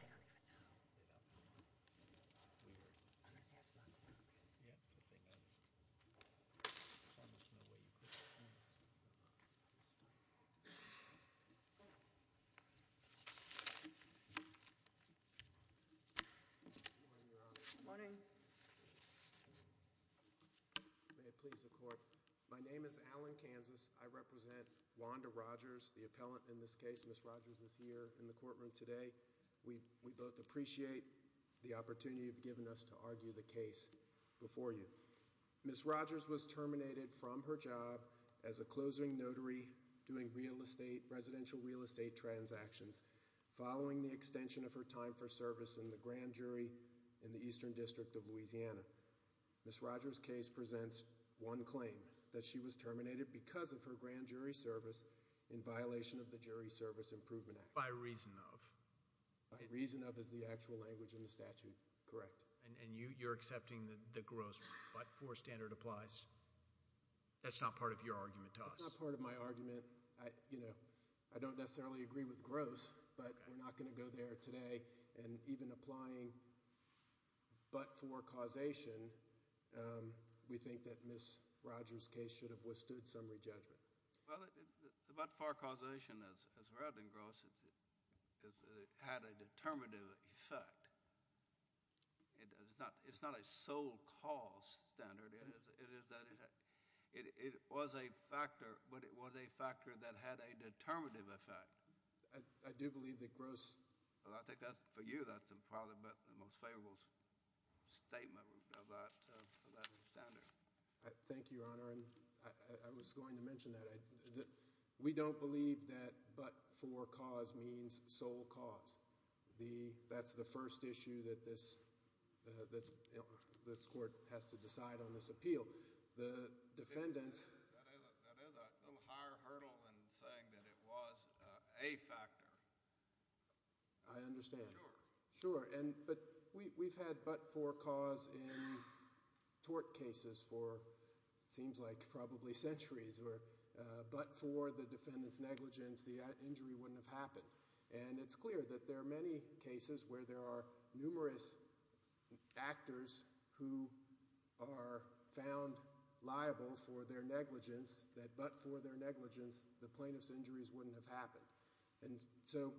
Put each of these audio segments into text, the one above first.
al. My name is Alan Kansas. I represent Wanda Rogers, the appellant in this case. Ms. Rogers is here in the courtroom today. We both appreciate the opportunity you've given us to argue the case before you. Ms. Rogers was terminated from her job as a closing notary doing residential real estate transactions following the extension of her time for service in the Grand Jury in the Eastern District of Louisiana. Ms. Rogers' case presents one claim, that she was terminated because of her Grand Jury service in violation of the Jury Service Improvement Act. By reason of? By reason of is the actual language in the statute, correct. And you're accepting that the gross but-for standard applies? That's not part of your argument to us. That's not part of my argument. I don't necessarily agree with gross, but we're not going to go there today. And even applying but-for causation, we think that Ms. Rogers' case should have withstood some re-judgment. Well, but-for causation, as well than gross, had a determinative effect. It's not a sole cause standard. It was a factor, but it was a factor that had a determinative effect. I do believe that gross—Well, I think that, for you, that's probably the most favorable statement of that standard. Thank you, Your Honor. I was going to mention that. We don't believe that but-for cause means sole cause. That's the first issue that this Court has to decide on this appeal. The defendants— That is a little higher hurdle than saying that it was a factor. I mean, it seems like probably centuries. But-for the defendant's negligence, the injury wouldn't have happened. And it's clear that there are many cases where there are numerous actors who are found liable for their negligence, that but-for their negligence, the plaintiff's injuries wouldn't have happened. So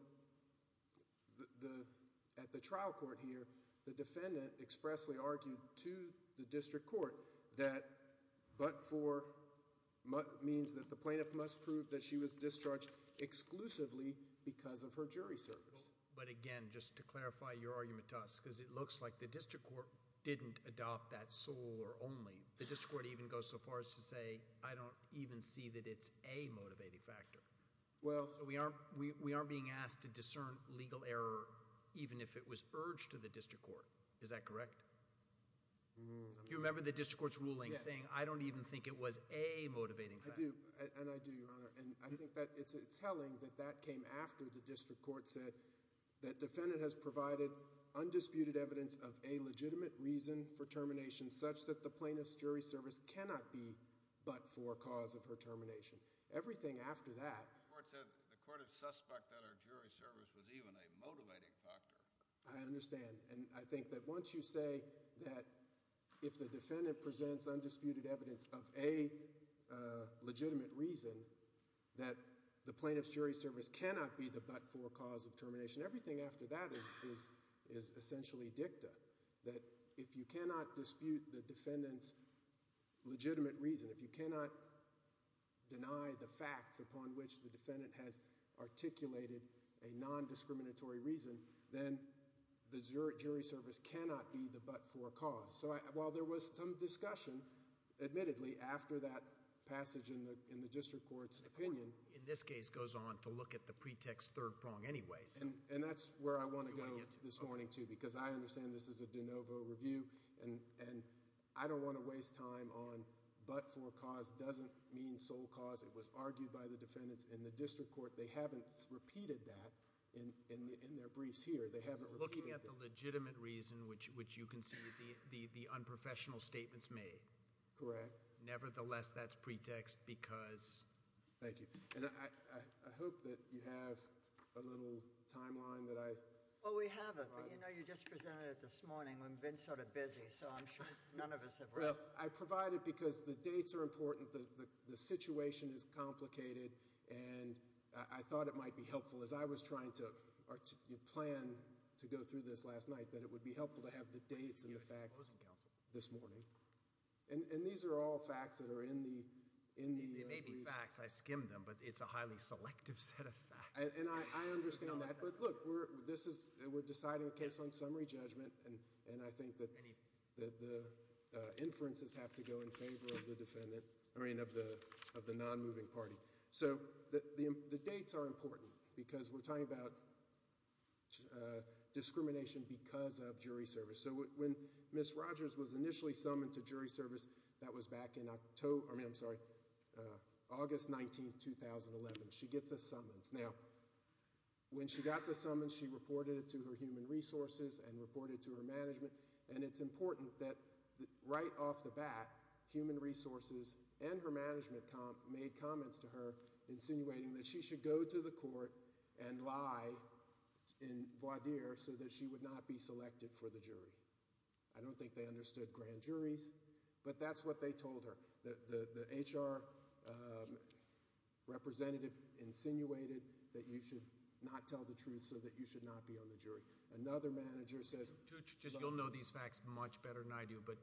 at the trial court here, the defendant expressly argued to the district court that but-for means that the plaintiff must prove that she was discharged exclusively because of her jury service. But again, just to clarify your argument to us, because it looks like the district court didn't adopt that sole or only. The district court even goes so far as to say, I don't even see that it's a motivating factor. Well- So we aren't being asked to discern legal error, even if it was urged to the district court. Is that correct? Do you remember the district court's ruling saying, I don't even think it was a motivating factor? I do. And I do, Your Honor. And I think that it's telling that that came after the district court said that defendant has provided undisputed evidence of a legitimate reason for termination such that the plaintiff's jury service cannot be but-for cause of her termination. Everything after that- The court said the court is suspect that her jury service was even a motivating factor. I understand. And I think that once you say that if the defendant presents undisputed evidence of a legitimate reason, that the plaintiff's jury service cannot be the but-for cause of termination, everything after that is essentially dicta. That if you cannot dispute the defendant's legitimate reason, if you cannot deny the facts upon which the defendant has articulated a nondiscriminatory reason, then the jury service cannot be the but-for cause. So while there was some discussion, admittedly, after that passage in the district court's opinion- The court, in this case, goes on to look at the pretext third prong anyways. And that's where I want to go this morning, too, because I understand this is a de novo review, and I don't want to waste time on but-for cause doesn't mean sole cause. It was argued by the defendants in the district court. They haven't repeated that in their briefs here. They haven't repeated- Looking at the legitimate reason, which you can see the unprofessional statements made. Correct. Nevertheless, that's pretext because- Thank you. And I hope that you have a little timeline that I- Well, we have it, but you just presented it this morning. We've been sort of busy, so I'm sure none of us have- Well, I provide it because the dates are important, the situation is complicated, and I thought it might be helpful, as I was trying to plan to go through this last night, that it would be helpful to have the dates and the facts this morning. And these are all facts that are in the- They may be facts. I skimmed them, but it's a highly selective set of facts. And I understand that, but look, we're deciding a case on summary judgment, and I think that the inferences have to go in favor of the non-moving party. So the dates are important because we're talking about discrimination because of jury service. So when Ms. Rogers was initially summoned to jury service, that was back in August 19, 2011. She gets a summons. Now, when she got the summons, she reported it to her human resources and reported it to her management, and it's important that right off the bat, human resources and her management made comments to her insinuating that she should go to the court and lie in voir dire so that she would not be selected for the jury. I don't think they understood grand juries, but that's what they told her. The HR representative insinuated that you should not tell the truth so that you should not be on the jury. Another manager says- You'll know these facts much better than I do, but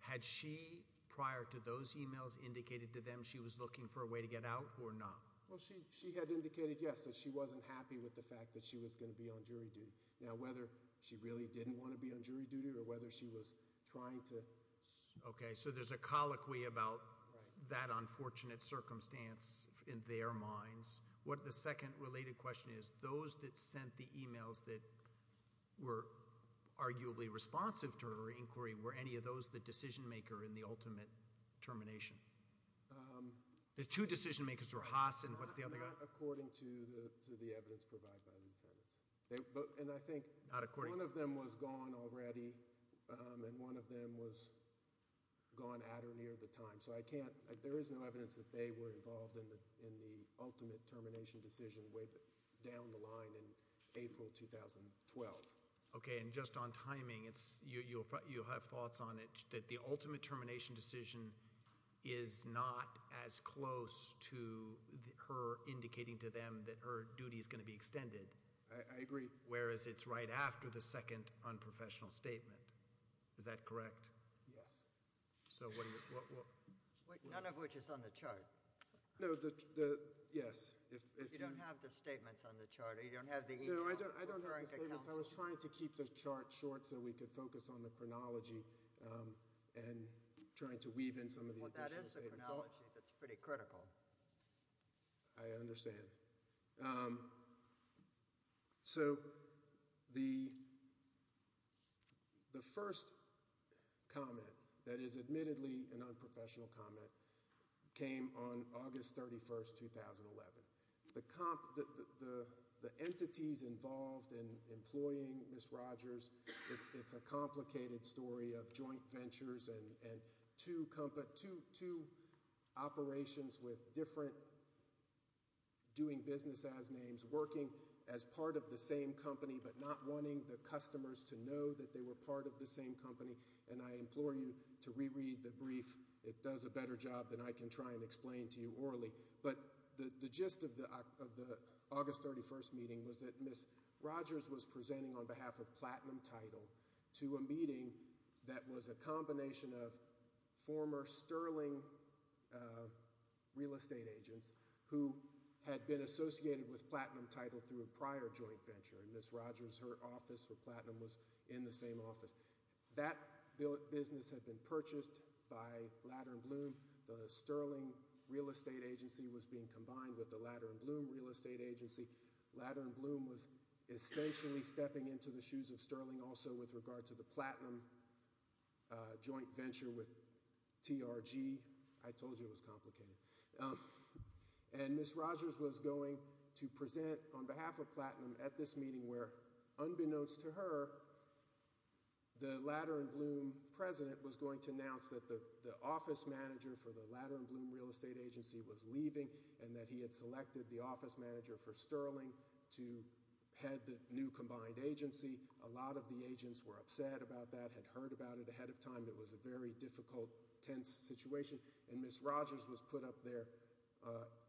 had she, prior to those emails, indicated to them she was looking for a way to get out or not? Well, she had indicated, yes, that she wasn't happy with the fact that she was going to be on jury duty. Now, whether she really didn't want to be on jury duty or whether she was trying to- Okay, so there's a colloquy about that unfortunate circumstance in their minds. What the second related question is, those that sent the emails that were arguably responsive to her inquiry, were any of those the decision maker in the ultimate termination? The two decision makers were Haas and what's the other guy? Not according to the evidence provided by the defendants, and I think- Not according- One of them was gone already, and one of them was gone at or near the time, so I can't- Okay, and just on timing, you'll have thoughts on it, that the ultimate termination decision is not as close to her indicating to them that her duty is going to be extended. I agree. Whereas, it's right after the second unprofessional statement. Is that correct? Yes. So what do you- None of which is on the chart. No, yes. You don't have the statements on the chart, or you don't have the email- No, I don't have the statements. I was trying to keep the chart short so we could focus on the chronology and trying to weave in some of the additional statements. Well, that is a chronology that's pretty critical. I understand. So the first comment that is admittedly an unprofessional comment came on August 31, 2011. The entities involved in employing Ms. Rogers, it's a complicated story of joint ventures and two operations with different doing business as names working as part of the same company, but not wanting the customers to know that they were part of the same company. And I implore you to reread the brief. It does a better job than I can try and explain to you orally. But the gist of the August 31st meeting was that Ms. Rogers was presenting on behalf of Platinum Title to a meeting that was a combination of former Sterling real estate agents who had been associated with Platinum Title through a prior joint venture. And Ms. Rogers, her office for Platinum was in the same office. That business had been purchased by Ladder & Bloom. The Sterling real estate agency was being combined with the Ladder & Bloom real estate agency. Ladder & Bloom was essentially stepping into the shoes of Sterling also with regard to the Platinum joint venture with TRG. I told you it was complicated. And Ms. Rogers was going to present on behalf of Platinum at this meeting where, unbeknownst to her, the Ladder & Bloom president was going to announce that the office manager for the Ladder & Bloom real estate agency was leaving and that he had selected the office manager for Sterling to head the new combined agency. A lot of the agents were upset about that, had heard about it ahead of time. It was a very difficult, tense situation. And Ms. Rogers was put up there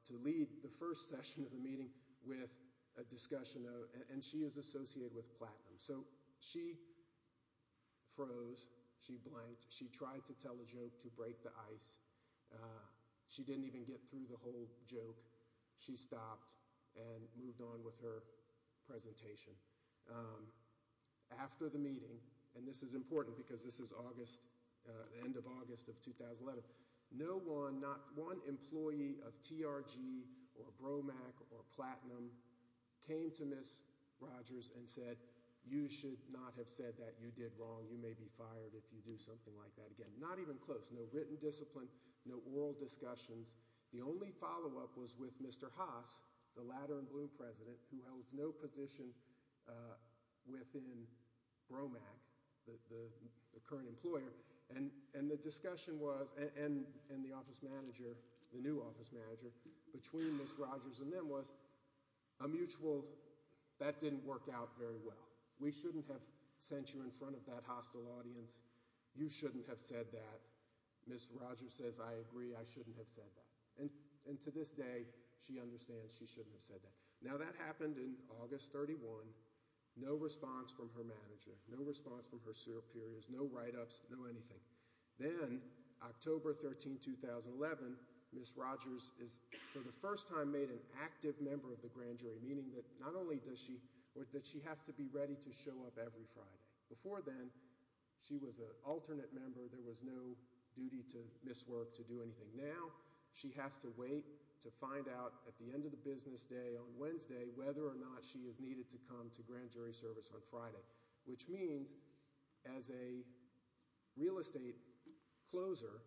to lead the first session of the meeting with a discussion. And she is associated with Platinum. So she froze. She blanked. She tried to tell a joke to break the ice. She didn't even get through the whole joke. She stopped and moved on with her presentation. After the meeting, and this is important because this is August, the end of August of 2011, no one, not one employee of TRG or Bromac or Platinum came to Ms. Rogers and said, you should not have said that. You did wrong. You may be fired if you do something like that again. Not even close. There was no written discipline, no oral discussions. The only follow-up was with Mr. Haas, the Ladder & Bloom president, who held no position within Bromac, the current employer. And the discussion was, and the office manager, the new office manager, between Ms. Rogers and them was, a mutual, that didn't work out very well. We shouldn't have sent you in front of that hostile audience. You shouldn't have said that. Ms. Rogers says, I agree, I shouldn't have said that. And to this day, she understands she shouldn't have said that. Now, that happened in August 31, no response from her manager, no response from her superiors, no write-ups, no anything. Then, October 13, 2011, Ms. Rogers is for the first time made an active member of the grand jury, meaning that not only does she, that she has to be ready to show up every Friday. Before then, she was an alternate member. There was no duty to miss work, to do anything. Now, she has to wait to find out at the end of the business day on Wednesday whether or not she is needed to come to grand jury service on Friday, which means as a real estate closer,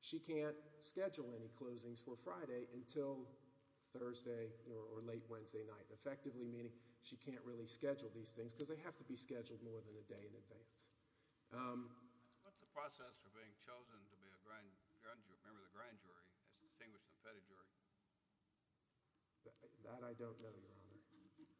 she can't schedule any closings for Friday until Thursday or late Wednesday night, effectively meaning she can't really schedule these things because they have to be scheduled more than a day in advance. What's the process for being chosen to be a member of the grand jury as distinguished as a petty jury? That I don't know, Your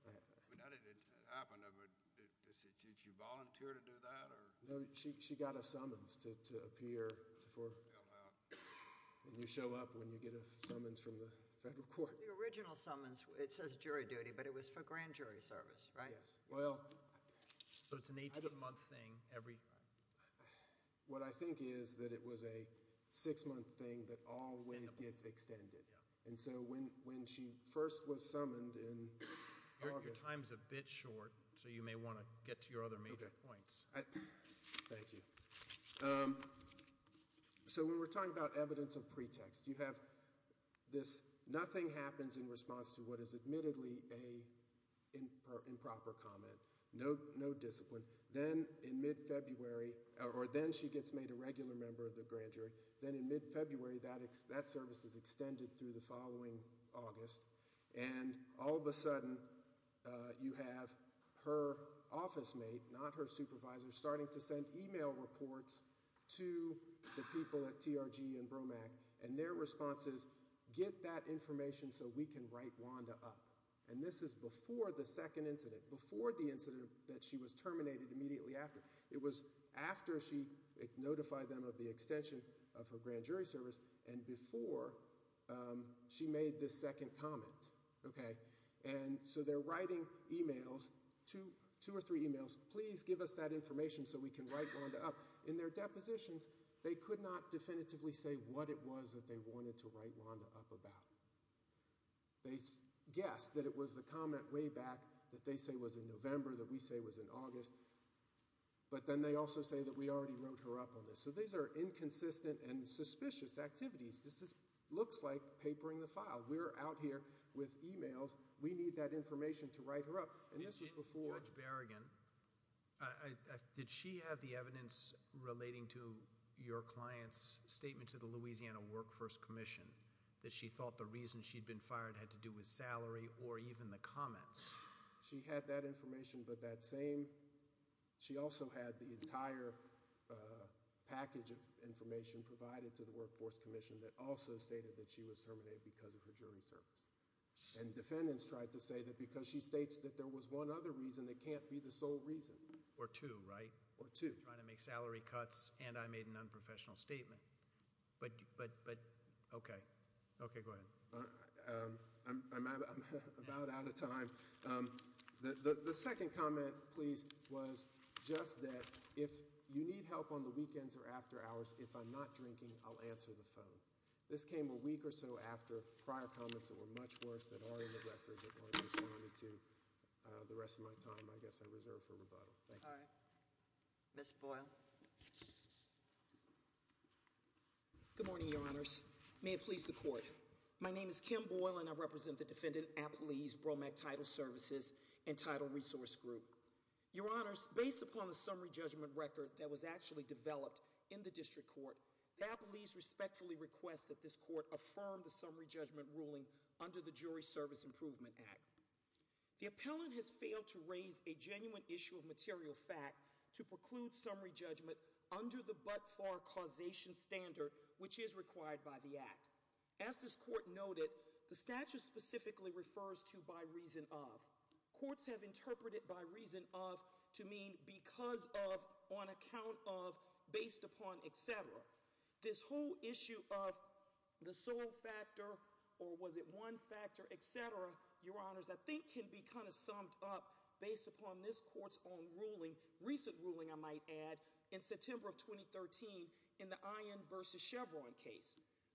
Honor. Now that it happened, did she volunteer to do that? No, she got a summons to appear and you show up when you get a summons from the federal court. The original summons, it says jury duty, but it was for grand jury service, right? Yes. So it's an 18-month thing every time. What I think is that it was a six-month thing that always gets extended. So when she first was summoned in August. Your time is a bit short, so you may want to get to your other major points. Thank you. So when we're talking about evidence of pretext, you have this nothing happens in response to what is admittedly an improper comment. No discipline. Then in mid-February, or then she gets made a regular member of the grand jury. Then in mid-February, that service is extended through the following August, and all of a sudden you have her office mate, not her supervisor, starting to send e-mail reports to the people at TRG and BROMAC, and their response is, get that information so we can write Wanda up. And this is before the second incident, before the incident that she was terminated immediately after. It was after she notified them of the extension of her grand jury service and before she made this second comment. So they're writing e-mails, two or three e-mails, please give us that information so we can write Wanda up. In their depositions, they could not definitively say what it was that they wanted to write Wanda up about. They guessed that it was the comment way back that they say was in November that we say was in August, but then they also say that we already wrote her up on this. So these are inconsistent and suspicious activities. This looks like papering the file. We're out here with e-mails. We need that information to write her up. Judge Berrigan, did she have the evidence relating to your client's statement to the Louisiana Workforce Commission that she thought the reason she'd been fired had to do with salary or even the comments? She had that information, but that same, she also had the entire package of information provided to the Workforce Commission that also stated that she was terminated because of her jury service. And defendants tried to say that because she states that there was one other reason that can't be the sole reason. Or two, right? Or two. Trying to make salary cuts, and I made an unprofessional statement. But, okay. Okay, go ahead. I'm about out of time. The second comment, please, was just that if you need help on the weekends or after hours, if I'm not drinking, I'll answer the phone. This came a week or so after prior comments that were much worse that are in the records that weren't responded to. The rest of my time, I guess, I reserve for rebuttal. Thank you. All right. Ms. Boyle. Good morning, Your Honors. May it please the Court. My name is Kim Boyle, and I represent the defendant, Apolise Bromack Title Services and Title Resource Group. Your Honors, based upon a summary judgment record that was actually developed in the district court, Apolise respectfully requests that this court affirm the summary judgment ruling under the Jury Service Improvement Act. The appellant has failed to raise a genuine issue of material fact to preclude summary judgment under the but-for causation standard which is required by the Act. As this court noted, the statute specifically refers to by reason of. Courts have interpreted by reason of to mean because of, on account of, based upon, etc. This whole issue of the sole factor or was it one factor, etc., Your Honors, I think can be kind of summed up based upon this court's own ruling, recent ruling, I might add, in September of 2013 in the Iron v. Chevron case.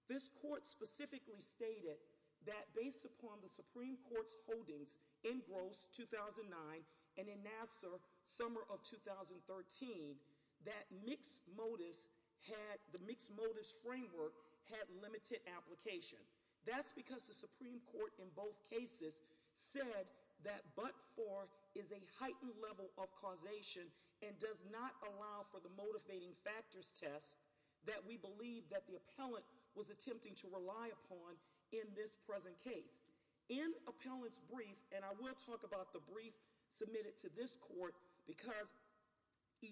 This court specifically stated that based upon the Supreme Court's holdings in Gross, 2009, and in Nassar, summer of 2013, that the mixed-modus framework had limited application. That's because the Supreme Court in both cases said that but-for is a heightened level of causation and does not allow for the motivating factors test that we believe that the appellant was attempting to rely upon in this present case. In appellant's brief, and I will talk about the brief submitted to this court, because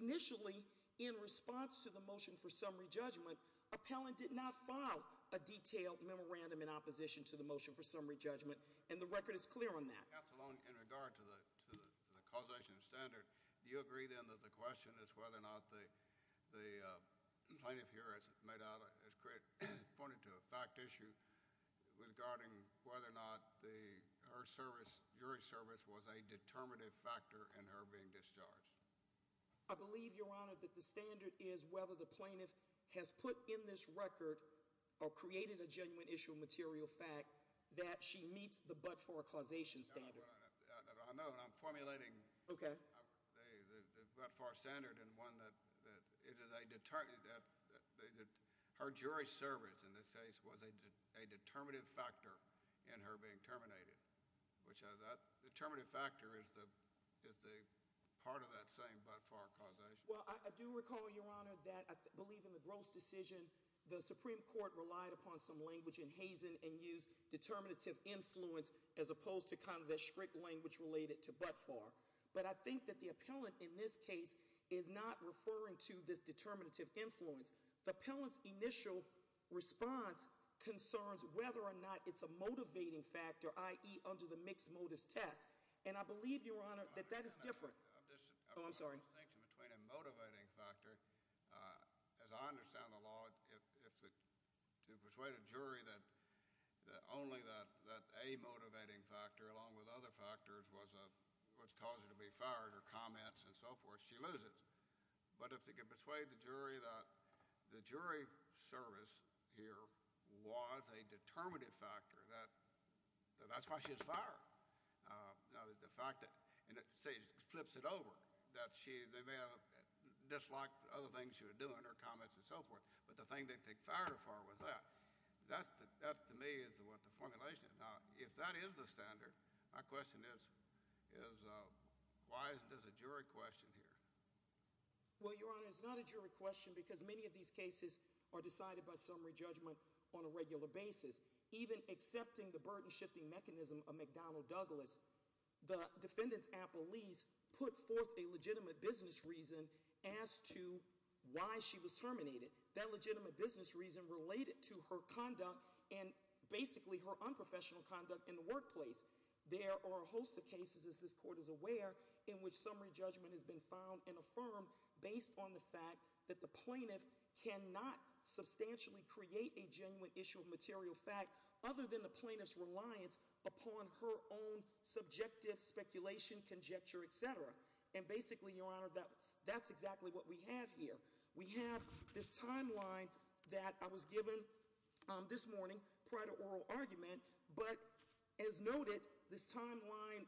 initially in response to the motion for summary judgment, appellant did not file a detailed memorandum in opposition to the motion for summary judgment, and the record is clear on that. In regard to the causation standard, do you agree then that the question is whether or not the plaintiff here pointed to a fact issue regarding whether or not her jury service was a determinative factor in her being discharged? I believe, Your Honor, that the standard is whether the plaintiff has put in this record or created a genuine issue of material fact that she meets the but-for causation standard. I know, and I'm formulating the but-for standard in one that it is a – her jury service in this case was a determinative factor in her being terminated, which that determinative factor is the part of that same but-for causation. Well, I do recall, Your Honor, that I believe in the gross decision the Supreme Court relied upon some language in Hazen and used determinative influence as opposed to kind of a strict language related to but-for. But I think that the appellant in this case is not referring to this determinative influence. The appellant's initial response concerns whether or not it's a motivating factor, i.e. under the mixed-modus test. And I believe, Your Honor, that that is different. Oh, I'm sorry. I brought a distinction between a motivating factor. As I understand the law, to persuade a jury that only that a motivating factor along with other factors was what caused her to be fired or comments and so forth, she loses. But if they could persuade the jury that the jury service here was a determinative factor, that's why she was fired. The fact that she flips it over, that they may have disliked other things she was doing or comments and so forth, but the thing they fired her for was that. That, to me, is what the formulation is. Now, if that is the standard, my question is, why is this a jury question here? Well, Your Honor, it's not a jury question because many of these cases are decided by summary judgment on a regular basis. Even accepting the burden-shifting mechanism of McDonnell Douglas, the defendant's appellees put forth a legitimate business reason as to why she was terminated. That legitimate business reason related to her conduct and basically her unprofessional conduct in the workplace. There are a host of cases, as this Court is aware, in which summary judgment has been found and affirmed based on the fact that the plaintiff cannot substantially create a genuine issue of material fact other than the plaintiff's reliance upon her own subjective speculation, conjecture, etc. And basically, Your Honor, that's exactly what we have here. We have this timeline that I was given this morning prior to oral argument, but as noted, this timeline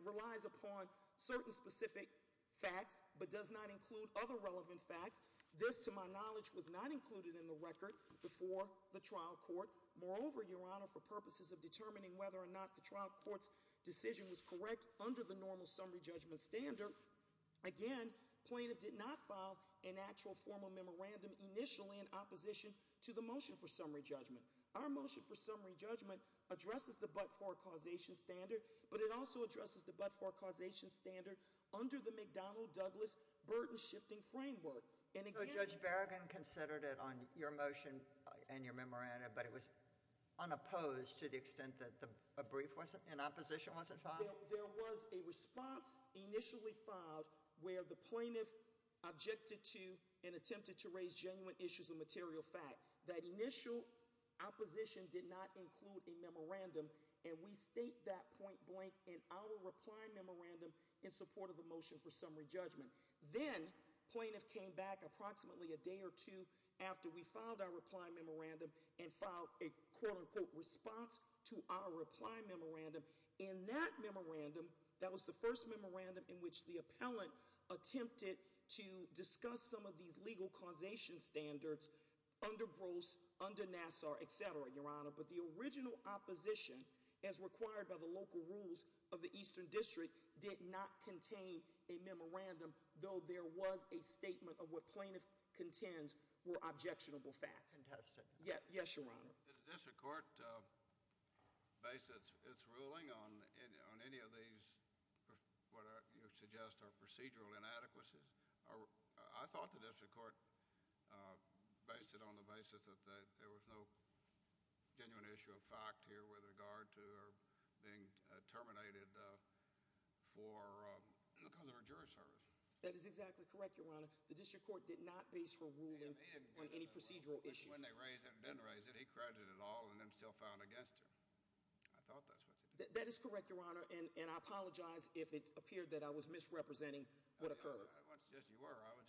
relies upon certain specific facts but does not include other relevant facts. This, to my knowledge, was not included in the record before the trial court. Moreover, Your Honor, for purposes of determining whether or not the trial court's decision was correct under the normal summary judgment standard, again, plaintiff did not file an actual formal memorandum initially in opposition to the motion for summary judgment. Our motion for summary judgment addresses the but-for causation standard, but it also addresses the but-for causation standard under the McDonnell-Douglas burden-shifting framework. So Judge Berrigan considered it on your motion and your memorandum, but it was unopposed to the extent that a brief in opposition wasn't filed? There was a response initially filed where the plaintiff objected to and attempted to raise genuine issues of material fact. That initial opposition did not include a memorandum, and we state that point blank in our reply memorandum in support of the motion for summary judgment. Then plaintiff came back approximately a day or two after we filed our reply memorandum and filed a quote-unquote response to our reply memorandum. In that memorandum, that was the first memorandum in which the appellant attempted to discuss some of these legal causation standards under Gross, under Nassar, etc., Your Honor. But the original opposition, as required by the local rules of the Eastern District, did not contain a memorandum, though there was a statement of what plaintiff contends were objectionable facts. Yes, Your Honor. The district court based its ruling on any of these what you suggest are procedural inadequacies. I thought the district court based it on the basis that there was no genuine issue of fact here with regard to her being terminated because of her jury service. That is exactly correct, Your Honor. The district court did not base her ruling on any procedural issues. When they raised it and didn't raise it, he credited it all and then still filed against her. I thought that's what they did. That is correct, Your Honor, and I apologize if it appeared that I was misrepresenting what occurred. I would suggest you were. I would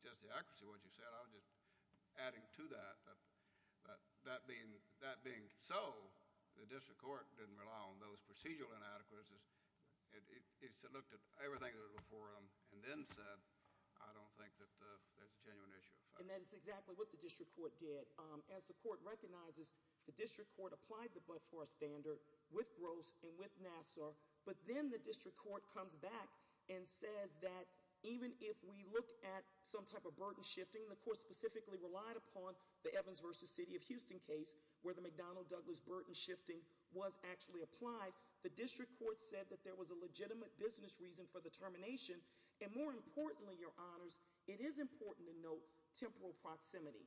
suggest the accuracy of what you said. I was just adding to that. That being so, the district court didn't rely on those procedural inadequacies. It looked at everything that was before them and then said, I don't think that there's a genuine issue of fact. And that is exactly what the district court did. As the court recognizes, the district court applied the Bud Far standard with Gross and with Nassar. But then the district court comes back and says that even if we look at some type of burden shifting, the court specifically relied upon the Evans versus City of Houston case where the McDonnell-Douglas burden shifting was actually applied. The district court said that there was a legitimate business reason for the termination. And more importantly, Your Honors, it is important to note temporal proximity.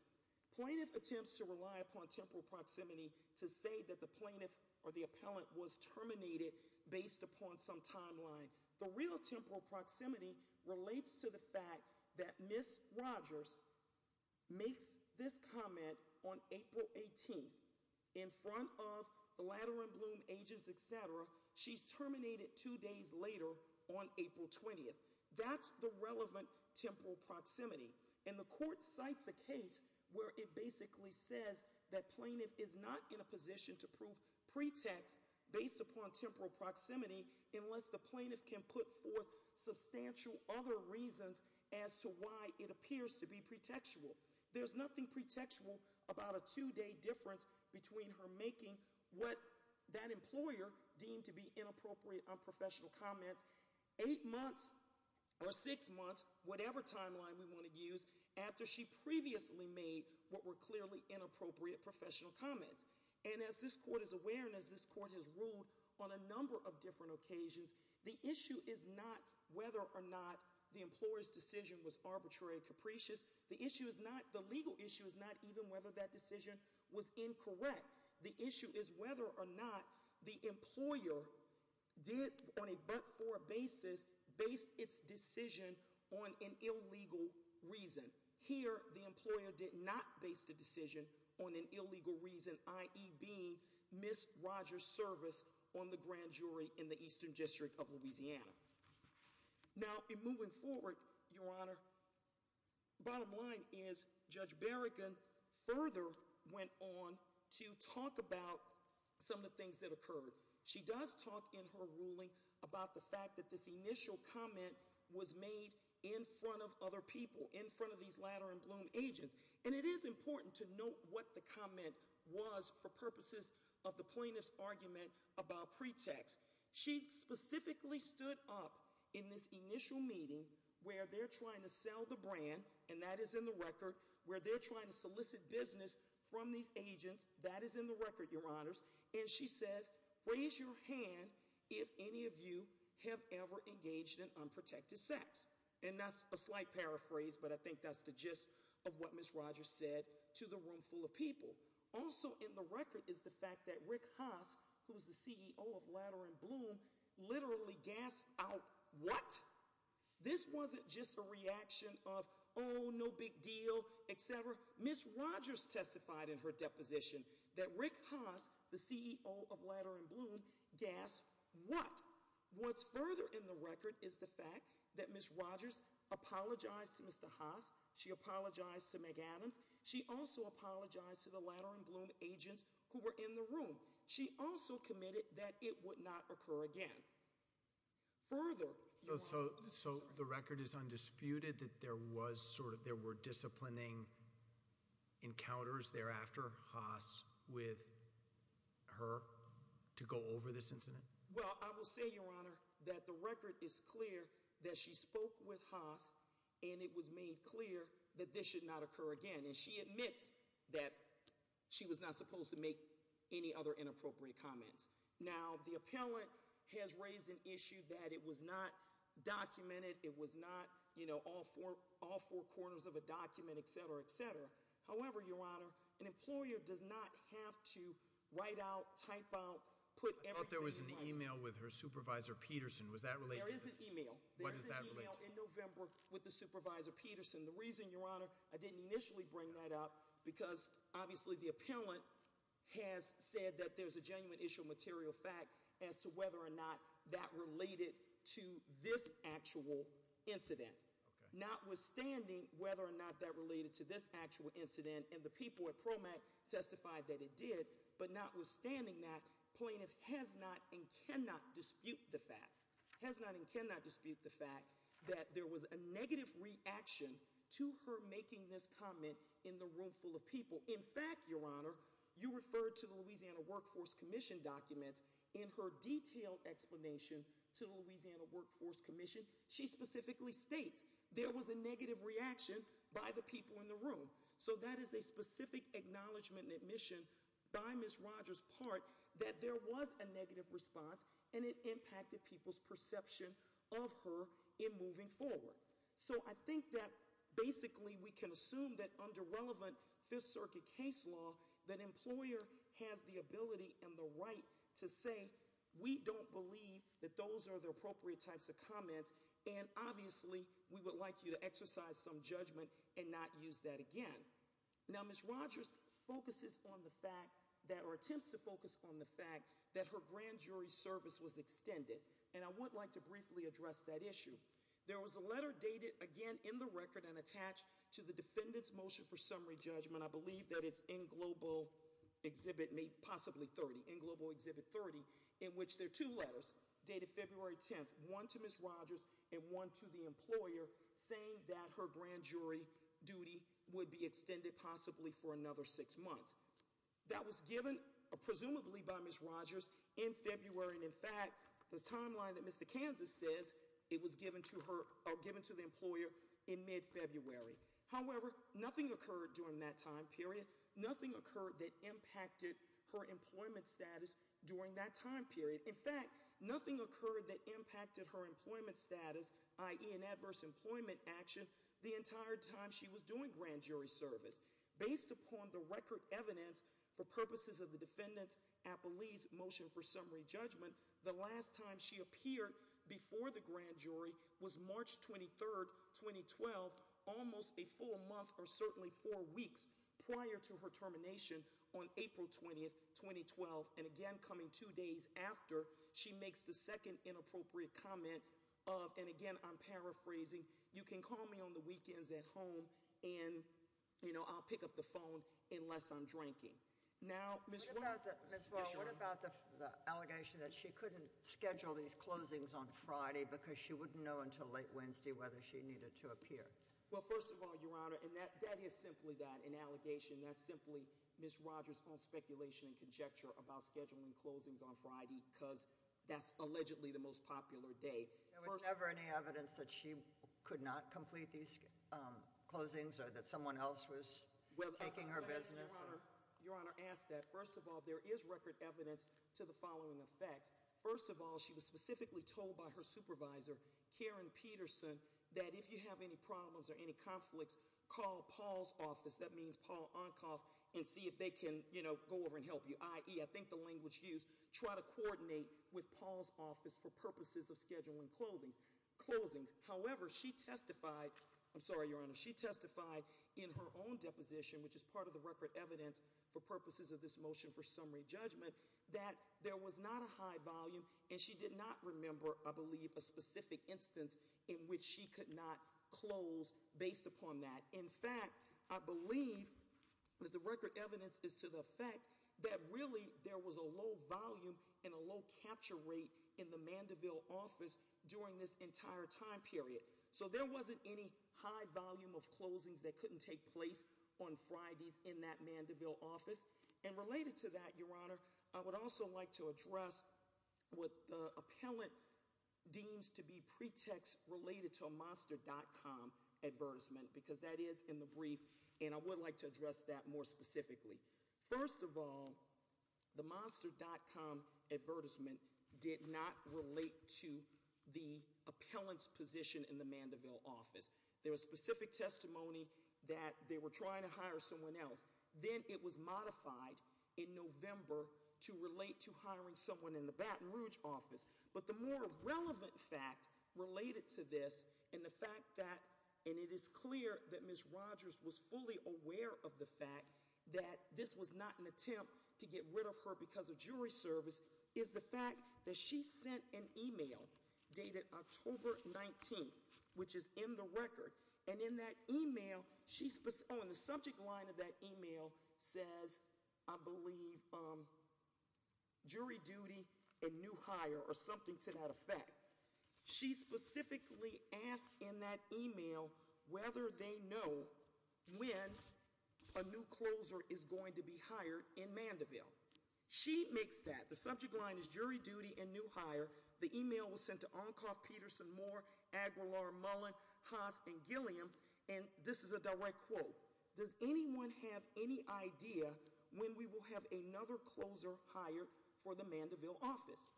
Plaintiff attempts to rely upon temporal proximity to say that the plaintiff or the appellant was terminated based upon some timeline. The real temporal proximity relates to the fact that Ms. Rogers makes this comment on April 18th in front of the Ladder and Bloom agents, etc. She's terminated two days later on April 20th. That's the relevant temporal proximity. And the court cites a case where it basically says that plaintiff is not in a position to prove pretext based upon temporal proximity unless the plaintiff can put forth substantial other reasons as to why it appears to be pretextual. There's nothing pretextual about a two-day difference between her making what that employer deemed to be inappropriate on professional comments eight months or six months, whatever timeline we want to use, after she previously made what were clearly inappropriate professional comments. And as this court is aware and as this court has ruled on a number of different occasions, the issue is not whether or not the employer's decision was arbitrary or capricious. The legal issue is not even whether that decision was incorrect. Instead, the issue is whether or not the employer did, on a but-for basis, base its decision on an illegal reason. Here, the employer did not base the decision on an illegal reason, i.e. being Ms. Rogers' service on the grand jury in the Eastern District of Louisiana. Now, in moving forward, Your Honor, bottom line is Judge Berrigan further went on to talk about some of the things that occurred. She does talk in her ruling about the fact that this initial comment was made in front of other people, in front of these Ladder and Bloom agents. And it is important to note what the comment was for purposes of the plaintiff's argument about pretext. She specifically stood up in this initial meeting where they're trying to sell the brand, and that is in the record, where they're trying to solicit business from these agents, that is in the record, Your Honors. And she says, raise your hand if any of you have ever engaged in unprotected sex. And that's a slight paraphrase, but I think that's the gist of what Ms. Rogers said to the room full of people. Also in the record is the fact that Rick Haas, who is the CEO of Ladder and Bloom, literally gasped out, what? This wasn't just a reaction of, oh, no big deal, etc. Ms. Rogers testified in her deposition that Rick Haas, the CEO of Ladder and Bloom, gasped, what? What's further in the record is the fact that Ms. Rogers apologized to Mr. Haas. She apologized to Meg Adams. She also apologized to the Ladder and Bloom agents who were in the room. She also committed that it would not occur again. Further- So the record is undisputed that there were disciplining encounters thereafter, Haas, with her to go over this incident? Well, I will say, Your Honor, that the record is clear that she spoke with Haas, and it was made clear that this should not occur again. And she admits that she was not supposed to make any other inappropriate comments. Now, the appellant has raised an issue that it was not documented, it was not all four corners of a document, etc., etc. However, Your Honor, an employer does not have to write out, type out, put everything- I thought there was an email with her supervisor, Peterson. Was that related to this? There is an email. What does that relate to? There is an email in November with the supervisor, Peterson. The reason, Your Honor, I didn't initially bring that up, because obviously the appellant has said that there's a genuine issue of material fact as to whether or not that related to this actual incident. Notwithstanding whether or not that related to this actual incident, and the people at PROMAT testified that it did. But notwithstanding that, plaintiff has not and cannot dispute the fact that there was a negative reaction to her making this comment in the room full of people. In fact, Your Honor, you referred to the Louisiana Workforce Commission documents in her detailed explanation to the Louisiana Workforce Commission. She specifically states there was a negative reaction by the people in the room. So that is a specific acknowledgement and admission by Ms. Rogers' part that there was a negative response, and it impacted people's perception of her in moving forward. So I think that basically we can assume that under relevant Fifth Circuit case law, that employer has the ability and the right to say, we don't believe that those are the appropriate types of comments. And obviously, we would like you to exercise some judgment and not use that again. Now Ms. Rogers focuses on the fact that, or attempts to focus on the fact that her grand jury service was extended. And I would like to briefly address that issue. There was a letter dated again in the record and attached to the defendant's motion for summary judgment. I believe that it's in Global Exhibit possibly 30, in Global Exhibit 30, in which there are two letters. Dated February 10th, one to Ms. Rogers and one to the employer, saying that her grand jury duty would be extended possibly for another six months. That was given, presumably by Ms. Rogers, in February. And in fact, this timeline that Mr. Kansas says, it was given to the employer in mid-February. However, nothing occurred during that time period. Nothing occurred that impacted her employment status during that time period. In fact, nothing occurred that impacted her employment status, i.e. an adverse employment action, the entire time she was doing grand jury service. Based upon the record evidence for purposes of the defendant's appellee's motion for summary judgment, the last time she appeared before the grand jury was March 23rd, 2012. Almost a full month or certainly four weeks prior to her termination on April 20th, 2012. And again, coming two days after, she makes the second inappropriate comment of, and again, I'm paraphrasing. You can call me on the weekends at home and I'll pick up the phone unless I'm drinking. Now, Ms. Williams. Yes, Your Honor. Ms. Wall, what about the allegation that she couldn't schedule these closings on Friday because she wouldn't know until late Wednesday whether she needed to appear? Well, first of all, Your Honor, and that is simply that, an allegation. That's simply Ms. Rogers' own speculation and conjecture about scheduling closings on Friday because that's allegedly the most popular day. There was never any evidence that she could not complete these closings or that someone else was taking her business? Your Honor, ask that. First of all, there is record evidence to the following effect. First of all, she was specifically told by her supervisor, Karen Peterson, that if you have any problems or any conflicts, call Paul's office. That means Paul Oncoff, and see if they can go over and help you. I.e., I think the language used, try to coordinate with Paul's office for purposes of scheduling closings. However, she testified, I'm sorry, Your Honor, she testified in her own deposition, which is part of the record evidence for purposes of this motion for summary judgment, that there was not a high volume and she did not remember, I believe, a specific instance in which she could not close based upon that. In fact, I believe that the record evidence is to the effect that really, there was a low volume and a low capture rate in the Mandeville office during this entire time period. So there wasn't any high volume of closings that couldn't take place on Fridays in that Mandeville office. And related to that, Your Honor, I would also like to address what the appellant deems to be pretext related to a monster.com advertisement, because that is in the brief. And I would like to address that more specifically. First of all, the monster.com advertisement did not relate to the appellant's position in the Mandeville office. There was specific testimony that they were trying to hire someone else. Then it was modified in November to relate to hiring someone in the Baton Rouge office. But the more relevant fact related to this, and the fact that, and it is clear that Ms. Rogers was fully aware of the fact that this was not an attempt to get rid of her because of jury service, is the fact that she sent an email dated October 19th, which is in the record. And in that email, she's on the subject line of that email says, I believe, jury duty and new hire or something to that effect. She specifically asked in that email whether they know when a new closer is going to be hired in Mandeville. She makes that, the subject line is jury duty and new hire. The email was sent to Oncoff, Peterson, Moore, Aguilar, Mullin, Haas, and Gilliam. And this is a direct quote. Does anyone have any idea when we will have another closer hired for the Mandeville office?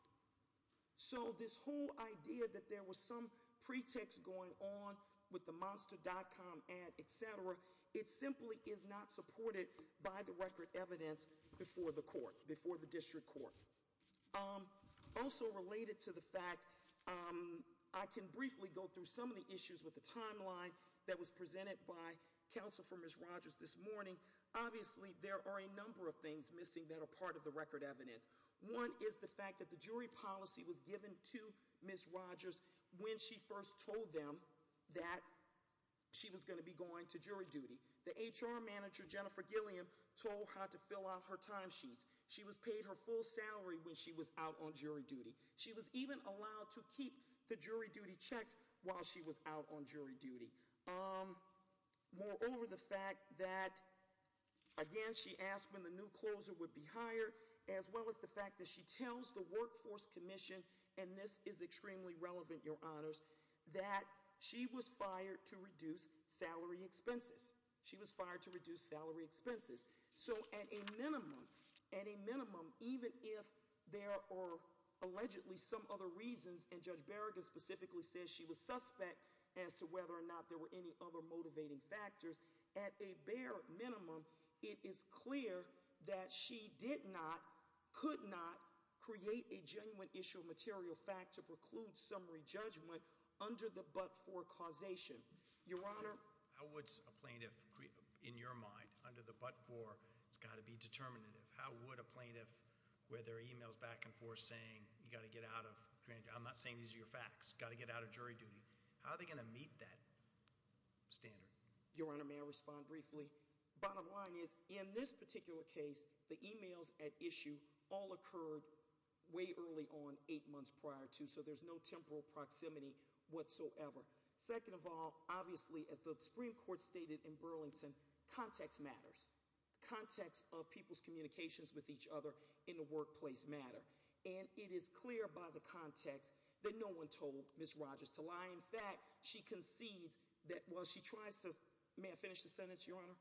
So this whole idea that there was some pretext going on with the monster.com ad, etc. It simply is not supported by the record evidence before the court, before the district court. Also related to the fact, I can briefly go through some of the issues with the timeline that was presented by Counsel for Ms. Rogers this morning. Obviously, there are a number of things missing that are part of the record evidence. One is the fact that the jury policy was given to Ms. Rogers when she first told them that she was going to be going to jury duty. The HR manager, Jennifer Gilliam, told her how to fill out her time sheets. She was paid her full salary when she was out on jury duty. She was even allowed to keep the jury duty checks while she was out on jury duty. Moreover, the fact that, again, she asked when the new closer would be hired, as well as the fact that she tells the workforce commission, and this is extremely relevant, your honors, that she was fired to reduce salary expenses. She was fired to reduce salary expenses. So at a minimum, even if there are allegedly some other reasons, and Judge Berrigan specifically says she was suspect as to whether or not there were any other motivating factors. At a bare minimum, it is clear that she did not, could not create a genuine issue of material fact to preclude summary judgment under the but-for causation. Your honor. How would a plaintiff, in your mind, under the but-for, it's got to be determinative. How would a plaintiff, where there are emails back and forth saying, you got to get out of, I'm not saying these are your facts, got to get out of jury duty. How are they going to meet that standard? Your honor, may I respond briefly? Bottom line is, in this particular case, the emails at issue all occurred way early on, eight months prior to, so there's no temporal proximity whatsoever. Second of all, obviously, as the Supreme Court stated in Burlington, context matters. Context of people's communications with each other in the workplace matter. And it is clear by the context that no one told Ms. Rogers to lie. In fact, she concedes that while she tries to, may I finish the sentence, your honor?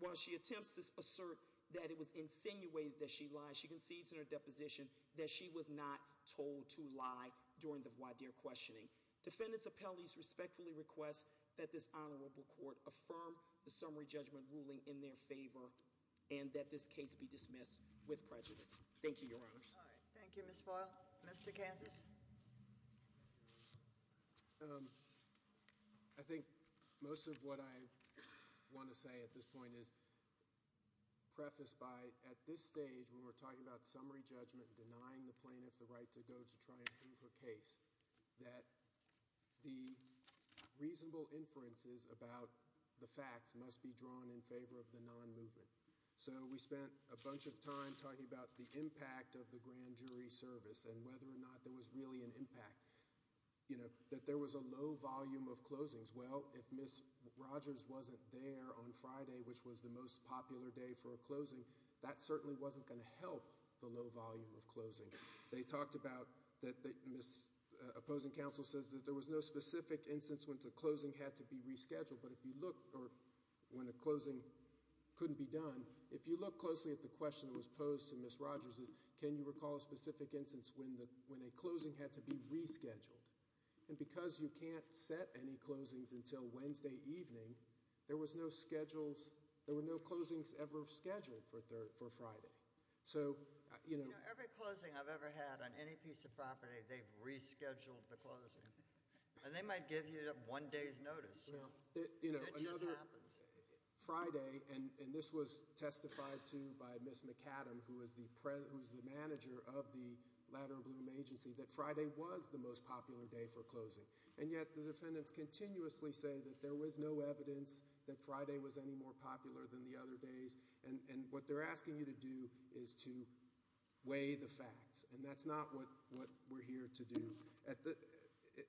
While she attempts to assert that it was insinuated that she lied, she concedes in her deposition that she was not told to lie during the voir dire questioning. Defendants' appellees respectfully request that this Honorable Court affirm the summary judgment ruling in their favor. And that this case be dismissed with prejudice. Thank you, your honors. Thank you, Ms. Boyle. Mr. Kansas. I think most of what I want to say at this point is, preface by at this stage when we're talking about summary judgment, denying the plaintiff the right to go to try and prove her case. That the reasonable inferences about the facts must be drawn in favor of the non-movement. So we spent a bunch of time talking about the impact of the grand jury service and whether or not there was really an impact, that there was a low volume of closings. Well, if Ms. Rogers wasn't there on Friday, which was the most popular day for a closing, that certainly wasn't going to help the low volume of closing. They talked about, Ms. Opposing Counsel says that there was no specific instance when the closing had to be rescheduled. But if you look, or when a closing couldn't be done, if you look closely at the question that was posed to Ms. Rogers is, can you recall a specific instance when a closing had to be rescheduled? And because you can't set any closings until Wednesday evening, there were no closings ever scheduled for Friday. So- Every closing I've ever had on any piece of property, they've rescheduled the closing. And they might give you one day's notice. It just happens. Friday, and this was testified to by Ms. McAdam, who is the manager of the Ladder Bloom Agency, that Friday was the most popular day for closing. And yet, the defendants continuously say that there was no evidence that Friday was any more popular than the other days. And what they're asking you to do is to weigh the facts. And that's not what we're here to do.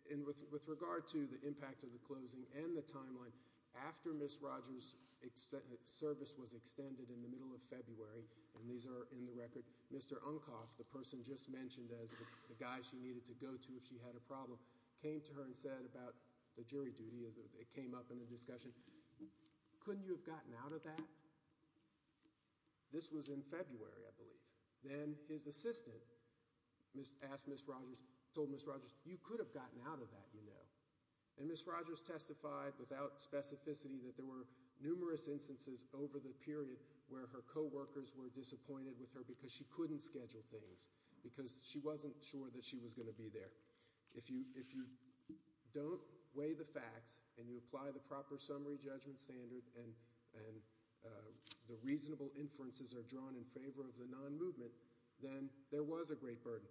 And with regard to the impact of the closing and the timeline, after Ms. Rogers' service was extended in the middle of February, and these are in the record, Mr. Uncoff, the person just mentioned as the guy she needed to go to if she had a problem, came to her and said about the jury duty as it came up in the discussion, couldn't you have gotten out of that? This was in February, I believe. Then his assistant asked Ms. Rogers, told Ms. Rogers, you could have gotten out of that, you know. And Ms. Rogers testified without specificity that there were numerous instances over the period where her co-workers were disappointed with her because she couldn't schedule things, because she wasn't sure that she was going to be there. If you don't weigh the facts, and you apply the proper summary judgment standard, and the reasonable inferences are drawn in favor of the non-movement, then there was a great burden.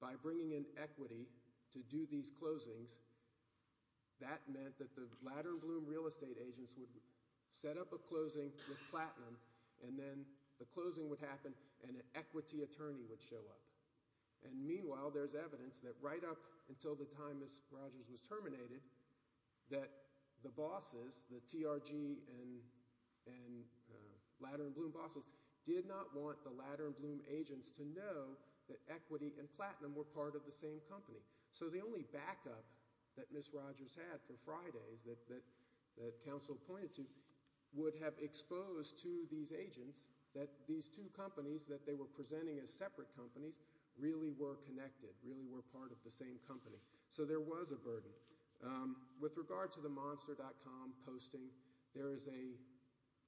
By bringing in equity to do these closings, that meant that the Lather and Bloom real estate agents would set up a closing with platinum, and then the closing would happen, and an equity attorney would show up. And meanwhile, there's evidence that right up until the time Ms. Rogers was terminated, that the bosses, the TRG and Lather and Bloom bosses, did not want the Lather and Bloom agents to know that equity and platinum were part of the same company. So the only backup that Ms. Rogers had for Fridays that council pointed to would have exposed to these agents that these two companies that they were presenting as separate companies really were connected, really were part of the same company. So there was a burden. With regard to the monster.com posting, there is a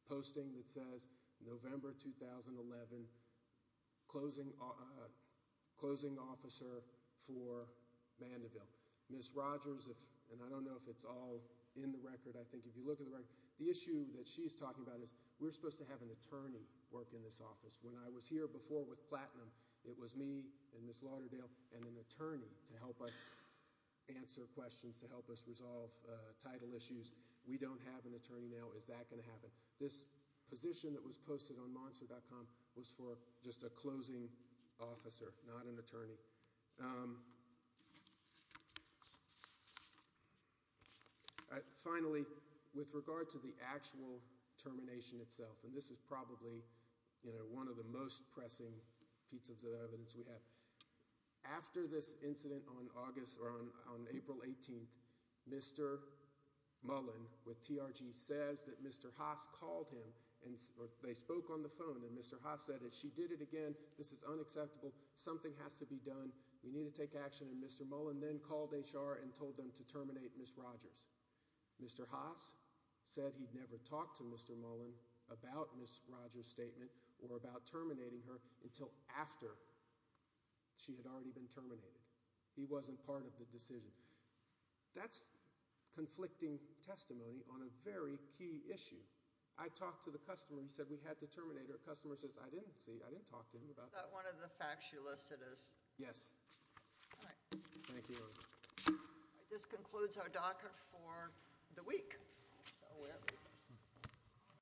posting that says, November 2011, closing officer for Vanderville. Ms. Rogers, and I don't know if it's all in the record. I think if you look at the record, the issue that she's talking about is, we're supposed to have an attorney work in this office. When I was here before with platinum, it was me and Ms. Lauderdale and an attorney to help us answer questions, to help us resolve title issues. We don't have an attorney now. Is that going to happen? This position that was posted on monster.com was for just a closing officer, not an attorney. Finally, with regard to the actual termination itself, and this is probably one of the most pressing pieces of evidence we have. After this incident on April 18th, Mr. Mullen with TRG says that Mr. Haas called him, or they spoke on the phone, and Mr. Haas said, if she did it again, this is unacceptable. Something has to be done. We need to take action. And Mr. Mullen then called HR and told them to terminate Ms. Rogers. Mr. Haas said he'd never talked to Mr. Mullen about Ms. Rogers' statement or about terminating her until after she had already been terminated. He wasn't part of the decision. That's conflicting testimony on a very key issue. I talked to the customer. He said, we had to terminate her. Customer says, I didn't see, I didn't talk to him about- Is that one of the facts you listed as? Yes. All right. Thank you. All right, this concludes our docker for the week.